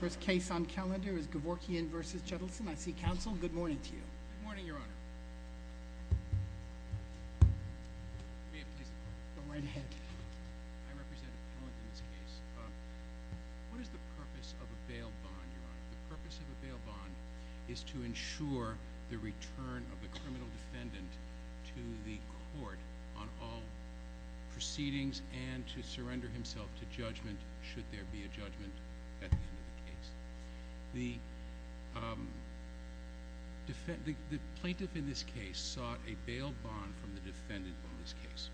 First case on calendar is Gevorkyan v. Judelson. I see counsel. Good morning to you. Good morning, Your Honor. Ma'am, please. Go right ahead. I represent a panel in this case. What is the purpose of a bail bond, Your Honor? The purpose of a bail bond is to ensure the return of the criminal defendant to the court on all proceedings and to surrender himself to judgment should there be a judgment at the end of the case. The plaintiff in this case sought a bail bond from the defendant on this case.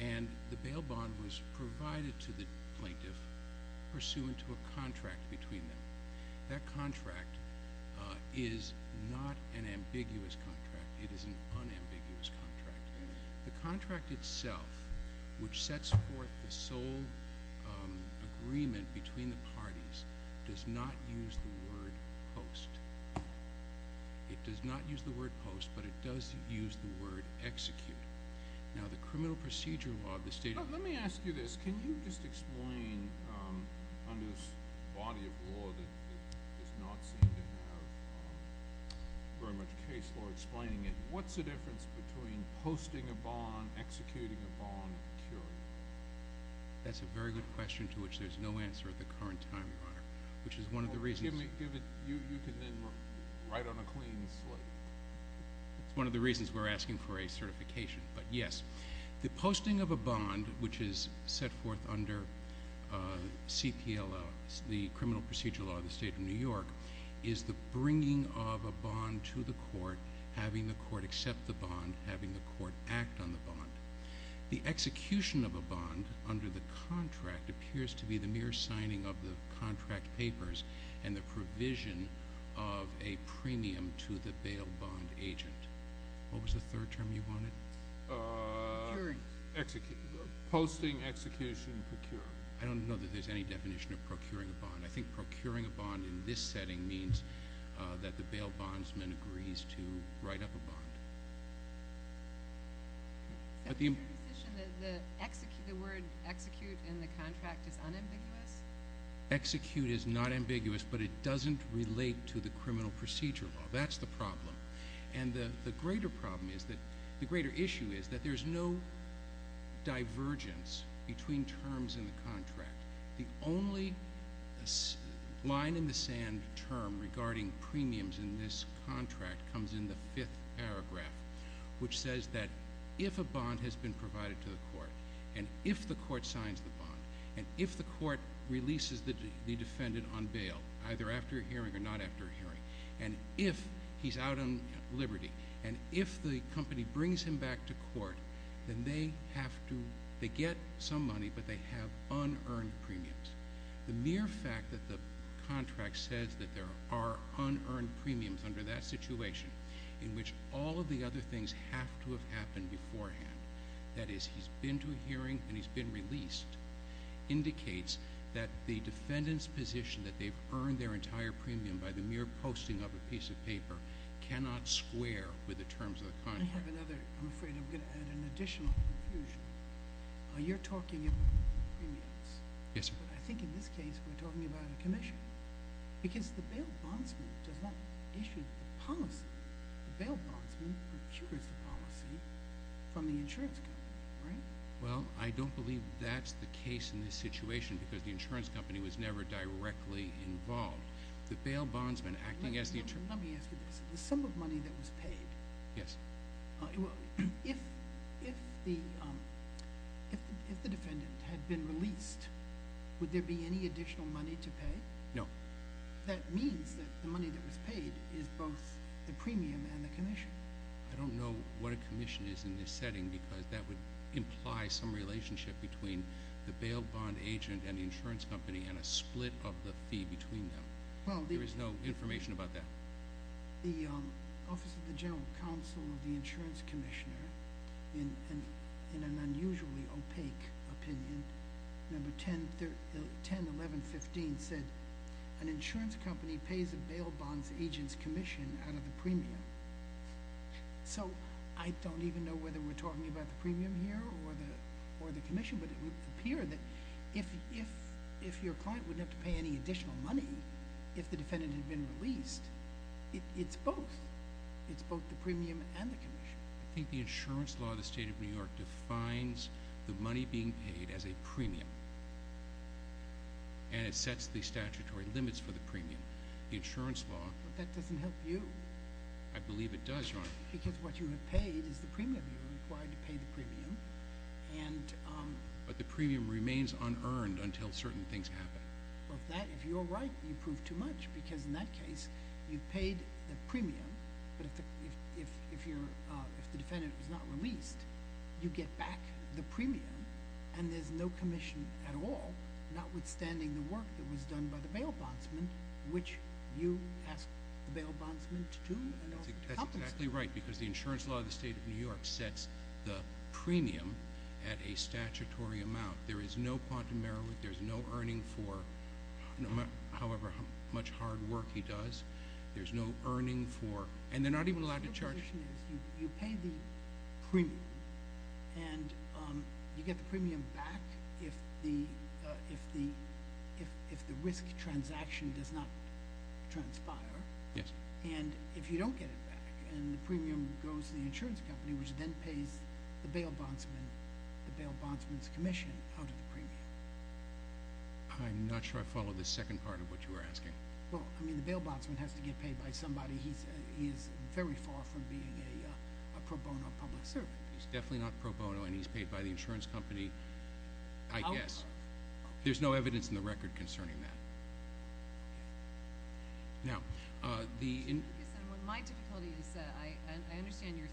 And the bail bond was provided to the plaintiff pursuant to a contract between them. That contract is not an ambiguous contract. It is an unambiguous contract. The contract itself, which sets forth the sole agreement between the parties, does not use the word post. It does not use the word post, but it does use the word execute. Now, the criminal procedure law of the state... Let me ask you this. Can you just explain, under this body of law that does not seem to have very much case law explaining it, what's the difference between posting a bond, executing a bond, and curing it? That's a very good question to which there's no answer at the current time, Your Honor, which is one of the reasons... You can then write on a clean slate. It's one of the reasons we're asking for a certification, but yes. The posting of a bond, which is set forth under CPLL, the criminal procedure law of the state of New York, is the bringing of a bond to the court, having the court accept the bond, having the court act on the bond. The execution of a bond under the contract appears to be the mere signing of the contract papers and the provision of a premium to the bail bond agent. What was the third term you wanted? Posting, execution, procure. I don't know that there's any definition of procuring a bond. I think procuring a bond in this setting means that the bail bondsman agrees to write up a bond. The word execute in the contract is unambiguous? Execute is not ambiguous, but it doesn't relate to the criminal procedure law. That's the problem. The greater issue is that there's no divergence between terms in the contract. The only line in the sand term regarding premiums in this contract comes in the fifth paragraph, which says that if a bond has been provided to the court, and if the court signs the bond, and if the court releases the defendant on bail, either after a hearing or not after a hearing, and if he's out on liberty, and if the company brings him back to court, then they get some money, but they have unearned premiums. The mere fact that the contract says that there are unearned premiums under that situation, in which all of the other things have to have happened beforehand, that is, he's been to a hearing and he's been released, indicates that the defendant's position that they've earned their entire premium by the mere posting of a piece of paper cannot square with the terms of the contract. I'm afraid I'm going to add an additional confusion. You're talking about premiums. Yes, sir. But I think in this case we're talking about a commission, because the bail bondsman does not issue the policy. The bail bondsman procures the policy from the insurance company, right? Well, I don't believe that's the case in this situation, because the insurance company was never directly involved. The bail bondsman acting as the insurance company... Let me ask you this. The sum of money that was paid... Yes. If the defendant had been released, would there be any additional money to pay? No. That means that the money that was paid is both the premium and the commission. I don't know what a commission is in this setting, because that would imply some relationship between the bail bond agent and the insurance company and a split of the fee between them. There is no information about that. The Office of the General Counsel of the Insurance Commissioner, in an unusually opaque opinion, number 101115 said an insurance company pays a bail bonds agent's commission out of the premium. So I don't even know whether we're talking about the premium here or the commission, but it would appear that if your client wouldn't have to pay any additional money if the defendant had been released, it's both. It's both the premium and the commission. I think the insurance law of the State of New York defines the money being paid as a premium, and it sets the statutory limits for the premium. The insurance law... But that doesn't help you. I believe it does, Your Honor. Because what you have paid is the premium. You're required to pay the premium, and... But the premium remains unearned until certain things happen. Well, if you're right, you've proved too much, because in that case you've paid the premium, but if the defendant was not released, you get back the premium, and there's no commission at all, notwithstanding the work that was done by the bail bondsman, which you ask the bail bondsman to do. That's exactly right, because the insurance law of the State of New York sets the premium at a statutory amount. There is no quantum error. There's no earning for however much hard work he does. There's no earning for... And they're not even allowed to charge... Your position is you pay the premium, and you get the premium back if the risk transaction does not transpire. Yes. And if you don't get it back, and the premium goes to the insurance company, which then pays the bail bondsman, the bail bondsman's commission out of the premium. I'm not sure I followed the second part of what you were asking. Well, I mean, the bail bondsman has to get paid by somebody. He is very far from being a pro bono public servant. He's definitely not pro bono, and he's paid by the insurance company, I guess. There's no evidence in the record concerning that. Now, the... My difficulty is I understand your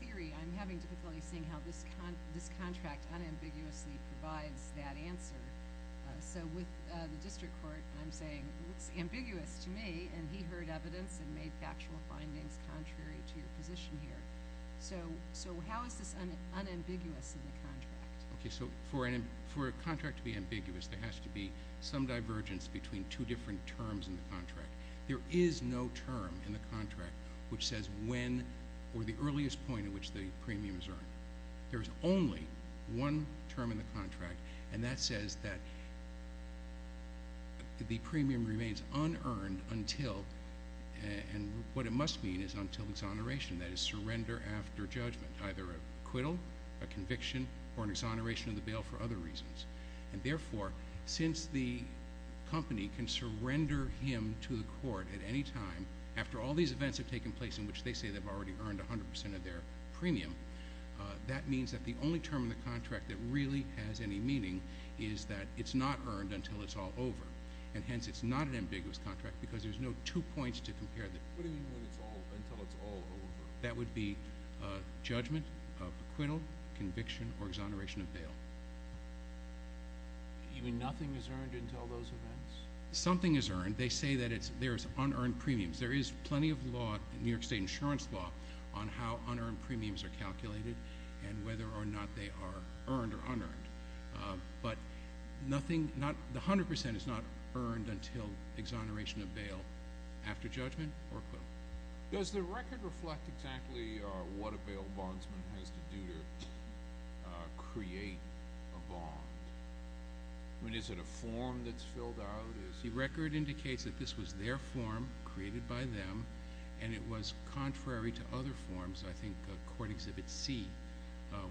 theory. I'm having difficulty seeing how this contract unambiguously provides that answer. So with the district court, I'm saying it's ambiguous to me, and he heard evidence and made factual findings contrary to your position here. So how is this unambiguous in the contract? Okay, so for a contract to be ambiguous, there is no term in the contract which says when or the earliest point in which the premium is earned. There is only one term in the contract, and that says that the premium remains unearned until, and what it must mean is until exoneration, that is, surrender after judgment, either acquittal, a conviction, or an exoneration of the bail for other reasons. And therefore, since the company can surrender him to the court at any time, after all these events have taken place in which they say they've already earned 100% of their premium, that means that the only term in the contract that really has any meaning is that it's not earned until it's all over, and hence it's not an ambiguous contract because there's no two points to compare the two. What do you mean until it's all over? That would be judgment, acquittal, conviction, or exoneration of bail. You mean nothing is earned until those events? Something is earned. They say that there's unearned premiums. There is plenty of law, New York State insurance law, on how unearned premiums are calculated and whether or not they are earned or unearned, but the 100% is not earned until exoneration of bail after judgment or acquittal. Does the record reflect exactly what a bail bondsman has to do to create a bond? I mean, is it a form that's filled out? The record indicates that this was their form created by them, and it was contrary to other forms. I think Court Exhibit C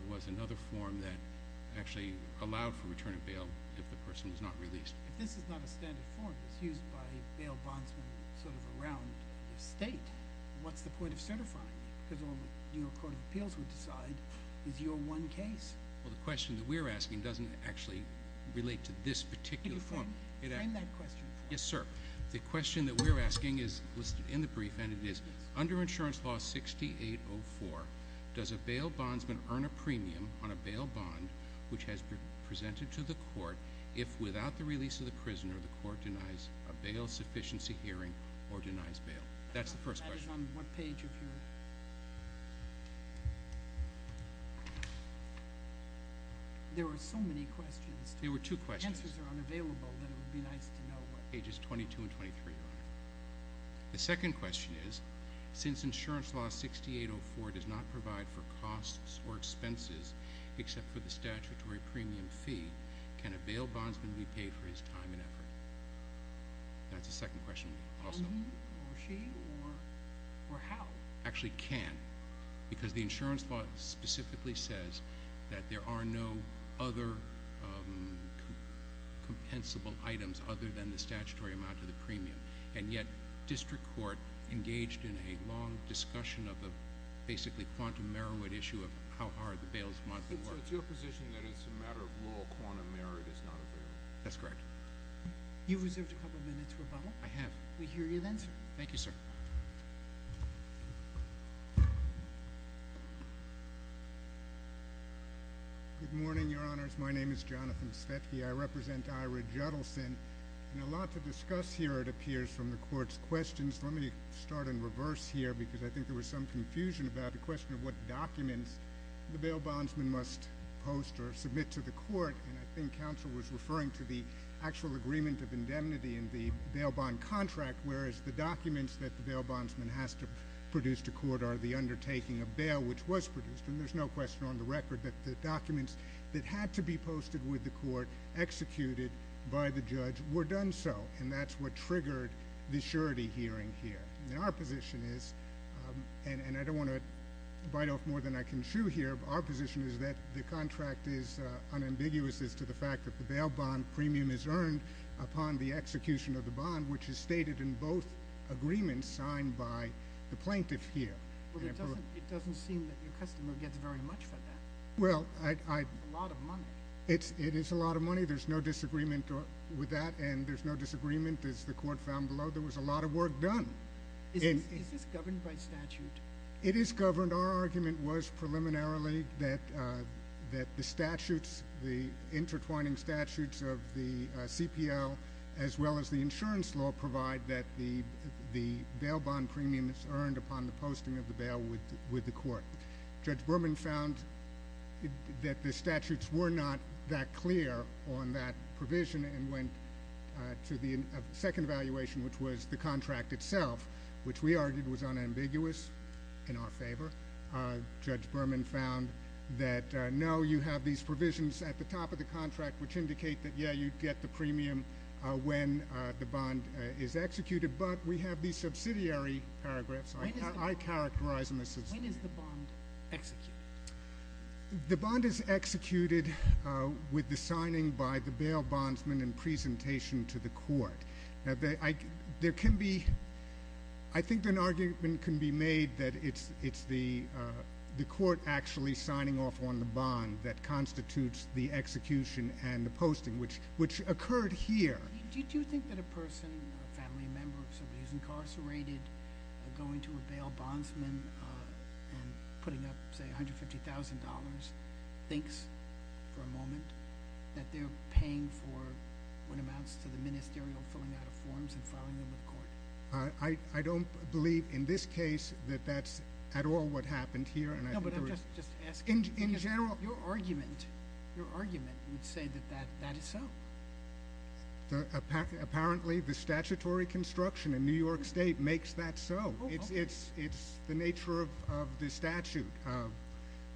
was another form that actually allowed for return of bail if the person was not released. If this is not a standard form that's used by bail bondsmen sort of around the state, what's the point of certifying it? Because all the New York Court of Appeals would decide is your one case. Well, the question that we're asking doesn't actually relate to this particular form. Can you frame that question for us? Yes, sir. The question that we're asking is listed in the brief, and it is, under Insurance Law 6804, does a bail bondsman earn a premium on a bail bond which has been presented to the court if, without the release of the prisoner, the court denies a bail sufficiency hearing or denies bail? That's the first question. That is on what page of your ____? There were so many questions. There were two questions. The answers are unavailable, but it would be nice to know what pages 22 and 23 are. The second question is, since Insurance Law 6804 does not provide for costs or expenses except for the statutory premium fee, can a bail bondsman be paid for his time and effort? That's the second question also. Or she, or how? Actually can, because the insurance law specifically says that there are no other compensable items other than the statutory amount of the premium, and yet district court engaged in a long discussion of the basically quantum error would issue of how hard the bails might be worth. So it's your position that it's a matter of rule quantum error that's not available? That's correct. You've reserved a couple minutes for a bubble. I have. We hear you then, sir. Thank you, sir. Good morning, Your Honors. My name is Jonathan Svetky. I represent Ira Juddelson. And a lot to discuss here, it appears, from the court's questions. Let me start in reverse here because I think there was some confusion about the question of what documents the bail bondsman must post or submit to the court. And I think counsel was referring to the actual agreement of indemnity in the bail bond contract, whereas the documents that the bail bondsman has to produce to court are the undertaking of bail, which was produced. And there's no question on the record that the documents that had to be posted with the court, executed by the judge, were done so. And that's what triggered the surety hearing here. Our position is, and I don't want to bite off more than I can chew here, but our position is that the contract is unambiguous as to the fact that the bail bond premium is earned upon the execution of the bond, which is stated in both agreements signed by the plaintiff here. Well, it doesn't seem that your customer gets very much for that. Well, I – It's a lot of money. It is a lot of money. There's no disagreement with that. And there's no disagreement, as the court found below. There was a lot of work done. Is this governed by statute? It is governed. Our argument was preliminarily that the statutes, the intertwining statutes of the CPL, as well as the insurance law provide that the bail bond premium is earned upon the posting of the bail with the court. Judge Berman found that the statutes were not that clear on that provision and went to the second evaluation, which was the contract itself, which we argued was unambiguous in our favor. Judge Berman found that, no, you have these provisions at the top of the contract which indicate that, yeah, you get the premium when the bond is executed, but we have these subsidiary paragraphs. I characterize them as – When is the bond executed? The bond is executed with the signing by the bail bondsman and presentation to the court. Now, there can be – I think an argument can be made that it's the court actually signing off on the bond that constitutes the execution and the posting, which occurred here. Do you think that a person, a family member of somebody who's incarcerated, going to a bail bondsman and putting up, say, $150,000 thinks for a moment that they're paying for what amounts to the ministerial filling out of forms and filing them with court? I don't believe in this case that that's at all what happened here. No, but I'm just asking. In general – Your argument would say that that is so. Apparently, the statutory construction in New York State makes that so. It's the nature of the statute,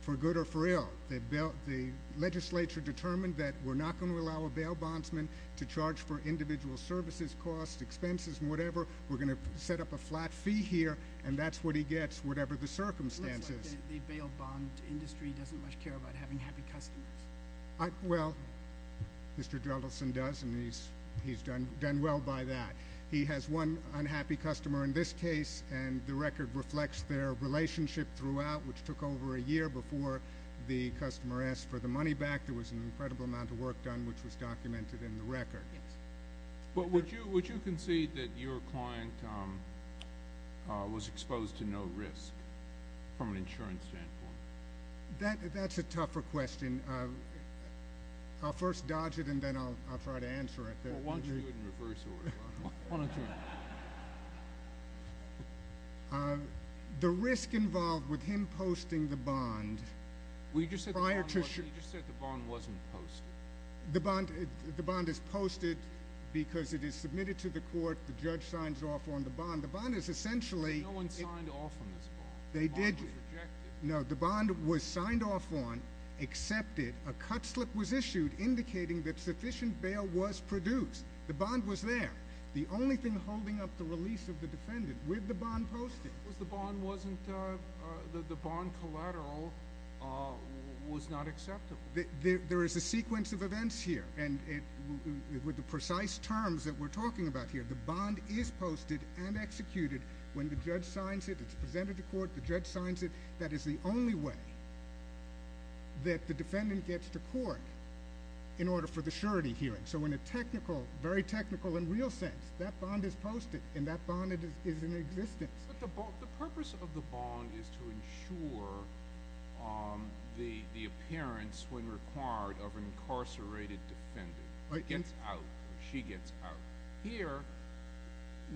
for good or for ill. The legislature determined that we're not going to allow a bail bondsman to charge for individual services, costs, expenses, and whatever. We're going to set up a flat fee here, and that's what he gets, whatever the circumstances. It looks like the bail bond industry doesn't much care about having happy customers. Well, Mr. Drelldelson does, and he's done well by that. He has one unhappy customer in this case, and the record reflects their relationship throughout, which took over a year before the customer asked for the money back. There was an incredible amount of work done, which was documented in the record. Would you concede that your client was exposed to no risk from an insurance standpoint? That's a tougher question. I'll first dodge it, and then I'll try to answer it. Why don't you do it in reverse order? The risk involved with him posting the bond prior to – Well, you just said the bond wasn't posted. The bond is posted because it is submitted to the court. The judge signs off on the bond. The bond is essentially – No one signed off on this bond. The bond was rejected. No, the bond was signed off on, accepted. A cut slip was issued indicating that sufficient bail was produced. The bond was there. The only thing holding up the release of the defendant with the bond posted – Because the bond wasn't – the bond collateral was not acceptable. There is a sequence of events here, and with the precise terms that we're talking about here, the bond is posted and executed when the judge signs it. It's presented to court. The judge signs it. That is the only way that the defendant gets to court in order for the surety hearing. So in a technical, very technical and real sense, that bond is posted, and that bond is in existence. But the purpose of the bond is to ensure the appearance, when required, of an incarcerated defendant. It gets out. She gets out. Here,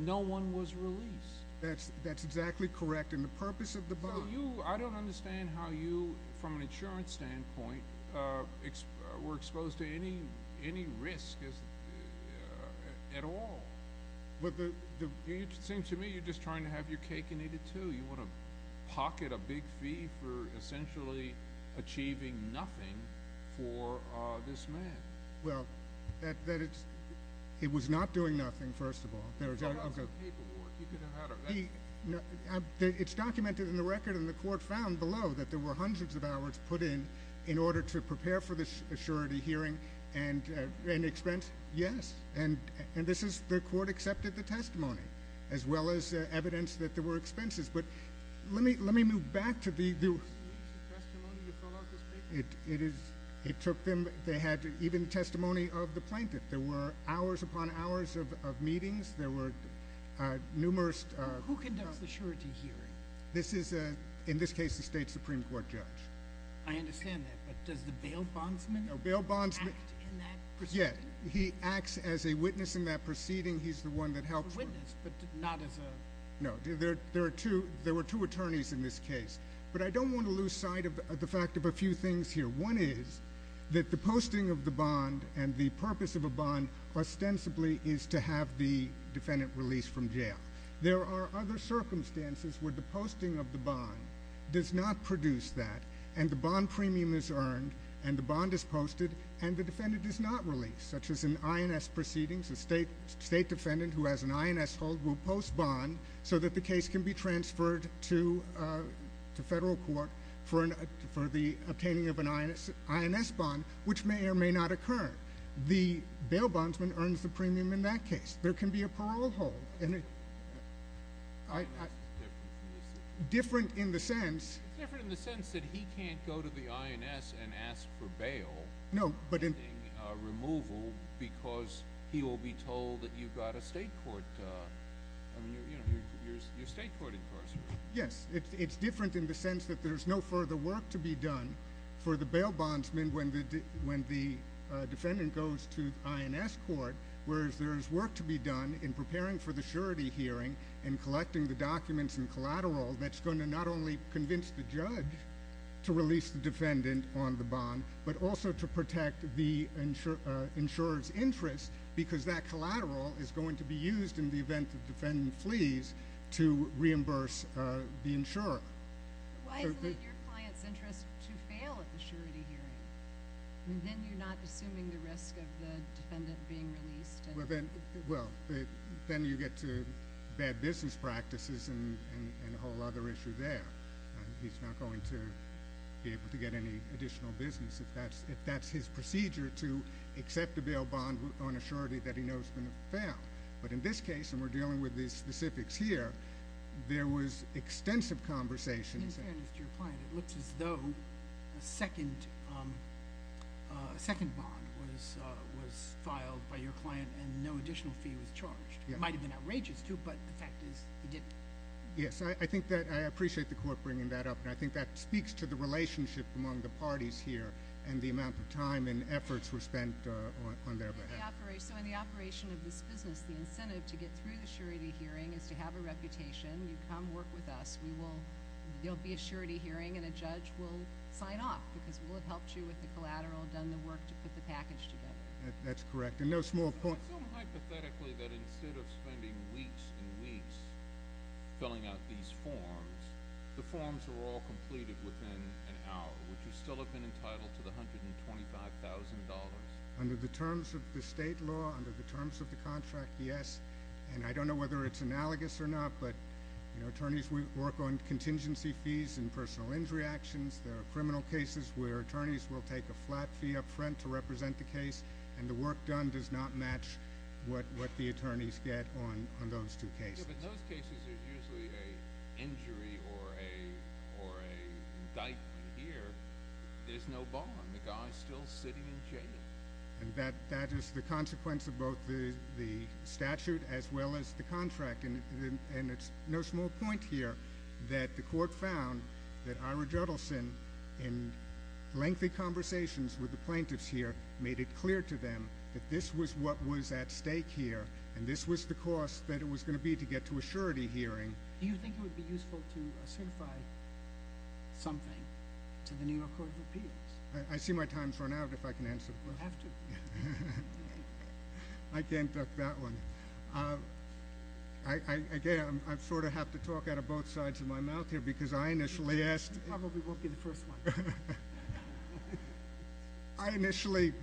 no one was released. That's exactly correct. And the purpose of the bond – I don't understand how you, from an insurance standpoint, were exposed to any risk at all. It seems to me you're just trying to have your cake and eat it, too. You want to pocket a big fee for essentially achieving nothing for this man. Well, it was not doing nothing, first of all. How about some paperwork? It's documented in the record, and the court found below that there were hundreds of hours put in in order to prepare for this surety hearing and expense. Yes. And the court accepted the testimony as well as evidence that there were expenses. But let me move back to the – Did you use the testimony to fill out this paper? It took them – they had even testimony of the plaintiff. There were hours upon hours of meetings. There were numerous – Who conducts the surety hearing? This is, in this case, a state Supreme Court judge. I understand that. But does the bail bondsman act in that proceeding? Yeah. He acts as a witness in that proceeding. He's the one that helps – A witness, but not as a – No. There were two attorneys in this case. But I don't want to lose sight of the fact of a few things here. One is that the posting of the bond and the purpose of a bond ostensibly is to have the defendant released from jail. There are other circumstances where the posting of the bond does not produce that, and the bond premium is earned, and the bond is posted, and the defendant is not released, such as in INS proceedings, a state defendant who has an INS hold will post bond so that the case can be transferred to federal court for the obtaining of an INS bond, which may or may not occur. The bail bondsman earns the premium in that case. There can be a parole hold. INS is different from the state? Different in the sense – It's different in the sense that he can't go to the INS and ask for bail – No, but – Yes. It's different in the sense that there's no further work to be done for the bail bondsman when the defendant goes to INS court, whereas there is work to be done in preparing for the surety hearing and collecting the documents and collateral that's going to not only convince the judge to release the defendant on the bond, but also to protect the insurer's interest because that collateral is going to be used in the event the defendant flees to reimburse the insurer. Why isn't it your client's interest to fail at the surety hearing? I mean, then you're not assuming the risk of the defendant being released? Well, then you get to bad business practices and a whole other issue there. He's not going to be able to get any additional business if that's his procedure to accept a bail bond on a surety that he knows is going to fail. But in this case, and we're dealing with the specifics here, there was extensive conversation – In fairness to your client, it looks as though a second bond was filed by your client and no additional fee was charged. It might have been outrageous, too, but the fact is he didn't. Yes, I appreciate the court bringing that up, and I think that speaks to the relationship among the parties here and the amount of time and efforts were spent on their behalf. So in the operation of this business, the incentive to get through the surety hearing is to have a reputation. You come work with us. There'll be a surety hearing, and a judge will sign off because we'll have helped you with the collateral, done the work to put the package together. That's correct, and no small – It's assumed hypothetically that instead of spending weeks and weeks filling out these forms, the forms are all completed within an hour, which you still have been entitled to the $125,000. Under the terms of the state law, under the terms of the contract, yes. And I don't know whether it's analogous or not, but attorneys work on contingency fees and personal injury actions. There are criminal cases where attorneys will take a flat fee up front to represent the case, and the work done does not match what the attorneys get on those two cases. Yeah, but in those cases, there's usually an injury or an indictment here. There's no bond. The guy's still sitting in jail. And that is the consequence of both the statute as well as the contract, and it's no small point here that the court found that Ira Judelson, in lengthy conversations with the plaintiffs here, made it clear to them that this was what was at stake here and this was the cost that it was going to be to get to a surety hearing. Do you think it would be useful to certify something to the New York Court of Appeals? I see my time's run out if I can answer the question. You have to. I can't duck that one. Again, I sort of have to talk out of both sides of my mouth here because I initially asked – This probably won't be the first one. I initially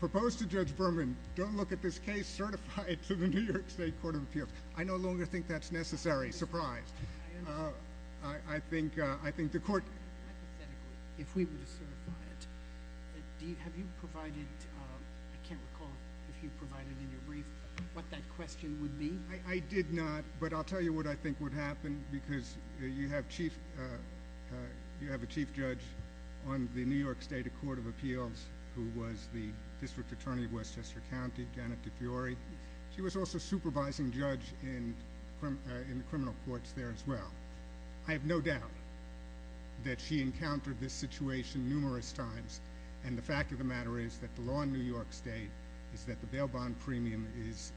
proposed to Judge Berman, don't look at this case, certify it to the New York State Court of Appeals. I no longer think that's necessary. Surprised. I think the court – Hypothetically, if we were to certify it, have you provided – I can't recall if you provided in your brief what that question would be. I did not, but I'll tell you what I think would happen because you have a chief judge on the New York State Court of Appeals who was the district attorney of Westchester County, Janet DeFiori. She was also supervising judge in the criminal courts there as well. I have no doubt that she encountered this situation numerous times, and the fact of the matter is that the law in New York State is that the bail bond premium is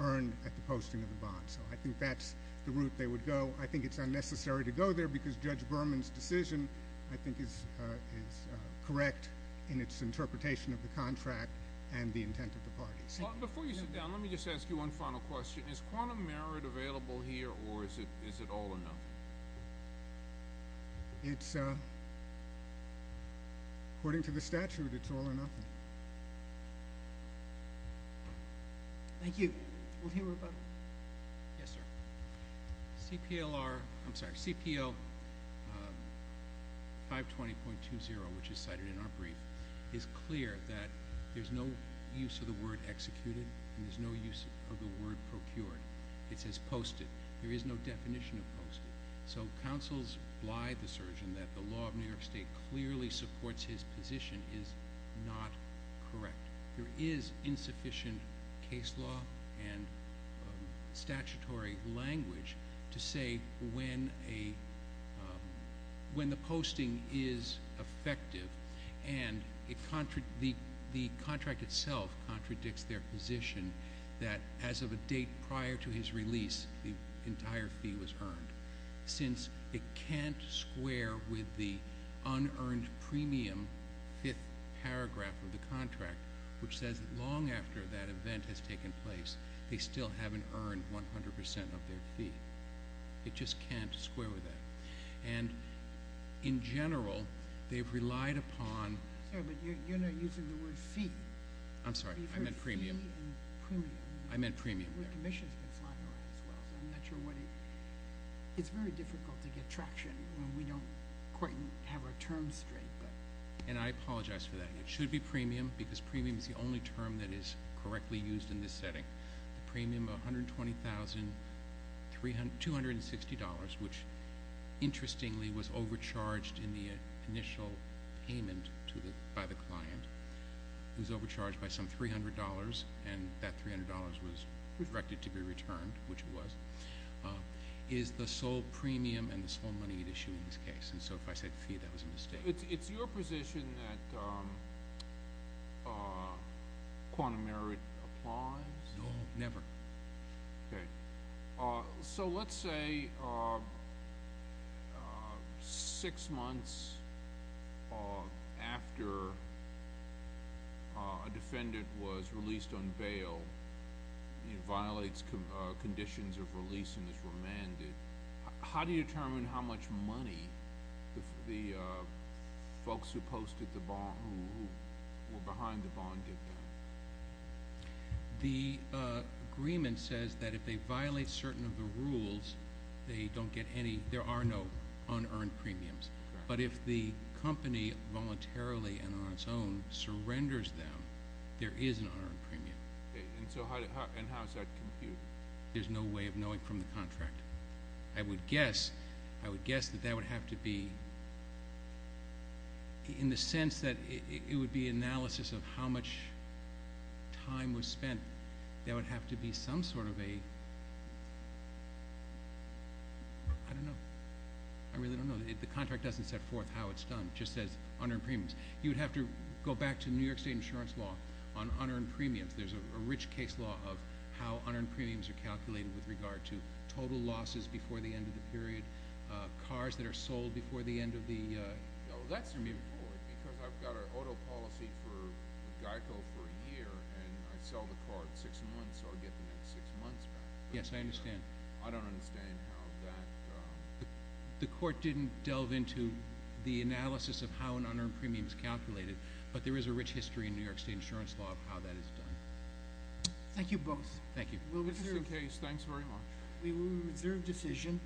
earned at the posting of the bond. I think that's the route they would go. I think it's unnecessary to go there because Judge Berman's decision, I think, is correct in its interpretation of the contract and the intent of the parties. Before you sit down, let me just ask you one final question. Is quantum merit available here or is it all or nothing? It's – according to the statute, it's all or nothing. Thank you. We'll hear from – Yes, sir. CPLR – I'm sorry, CPO 520.20, which is cited in our brief, is clear that there's no use of the word executed and there's no use of the word procured. It says posted. There is no definition of posted. So counsel's blithe assertion that the law of New York State clearly supports his position is not correct. There is insufficient case law and statutory language to say when a – when the posting is effective and the contract itself contradicts their position that as of a date prior to his release, the entire fee was earned, since it can't square with the unearned premium fifth paragraph of the contract, which says that long after that event has taken place, they still haven't earned 100 percent of their fee. It just can't square with that. And in general, they've relied upon – Sir, but you're not using the word fee. I'm sorry. I meant premium. You said fee and premium. I meant premium there. The commission's been flying around as well, so I'm not sure what it – it's very difficult to get traction when we don't quite have our terms straight. And I apologize for that. It should be premium because premium is the only term that is correctly used in this setting. The premium of $120,000, $260, which interestingly was overcharged in the initial payment by the client, was overcharged by some $300, and that $300 was directed to be returned, which it was, is the sole premium and the sole money at issue in this case. And so if I said fee, that was a mistake. It's your position that quantum merit applies? No, never. Okay. So let's say six months after a defendant was released on bail, he violates conditions of release and is remanded, how do you determine how much money the folks who were behind the bond get? The agreement says that if they violate certain of the rules, they don't get any – there are no unearned premiums. But if the company voluntarily and on its own surrenders them, there is an unearned premium. And how is that computed? There's no way of knowing from the contract. I would guess that that would have to be – in the sense that it would be analysis of how much time was spent. That would have to be some sort of a – I don't know. I really don't know. The contract doesn't set forth how it's done. It just says unearned premiums. You would have to go back to New York State insurance law on unearned premiums. There's a rich case law of how unearned premiums are calculated with regard to total losses before the end of the period, cars that are sold before the end of the – No, that's important because I've got an auto policy for Geico for a year, and I sell the car at six months, so I get the next six months back. Yes, I understand. I don't understand how that – The court didn't delve into the analysis of how an unearned premium is calculated, but there is a rich history in New York State insurance law of how that is done. Thank you both. Thank you. This is the case. Thanks very much. We will reserve decision.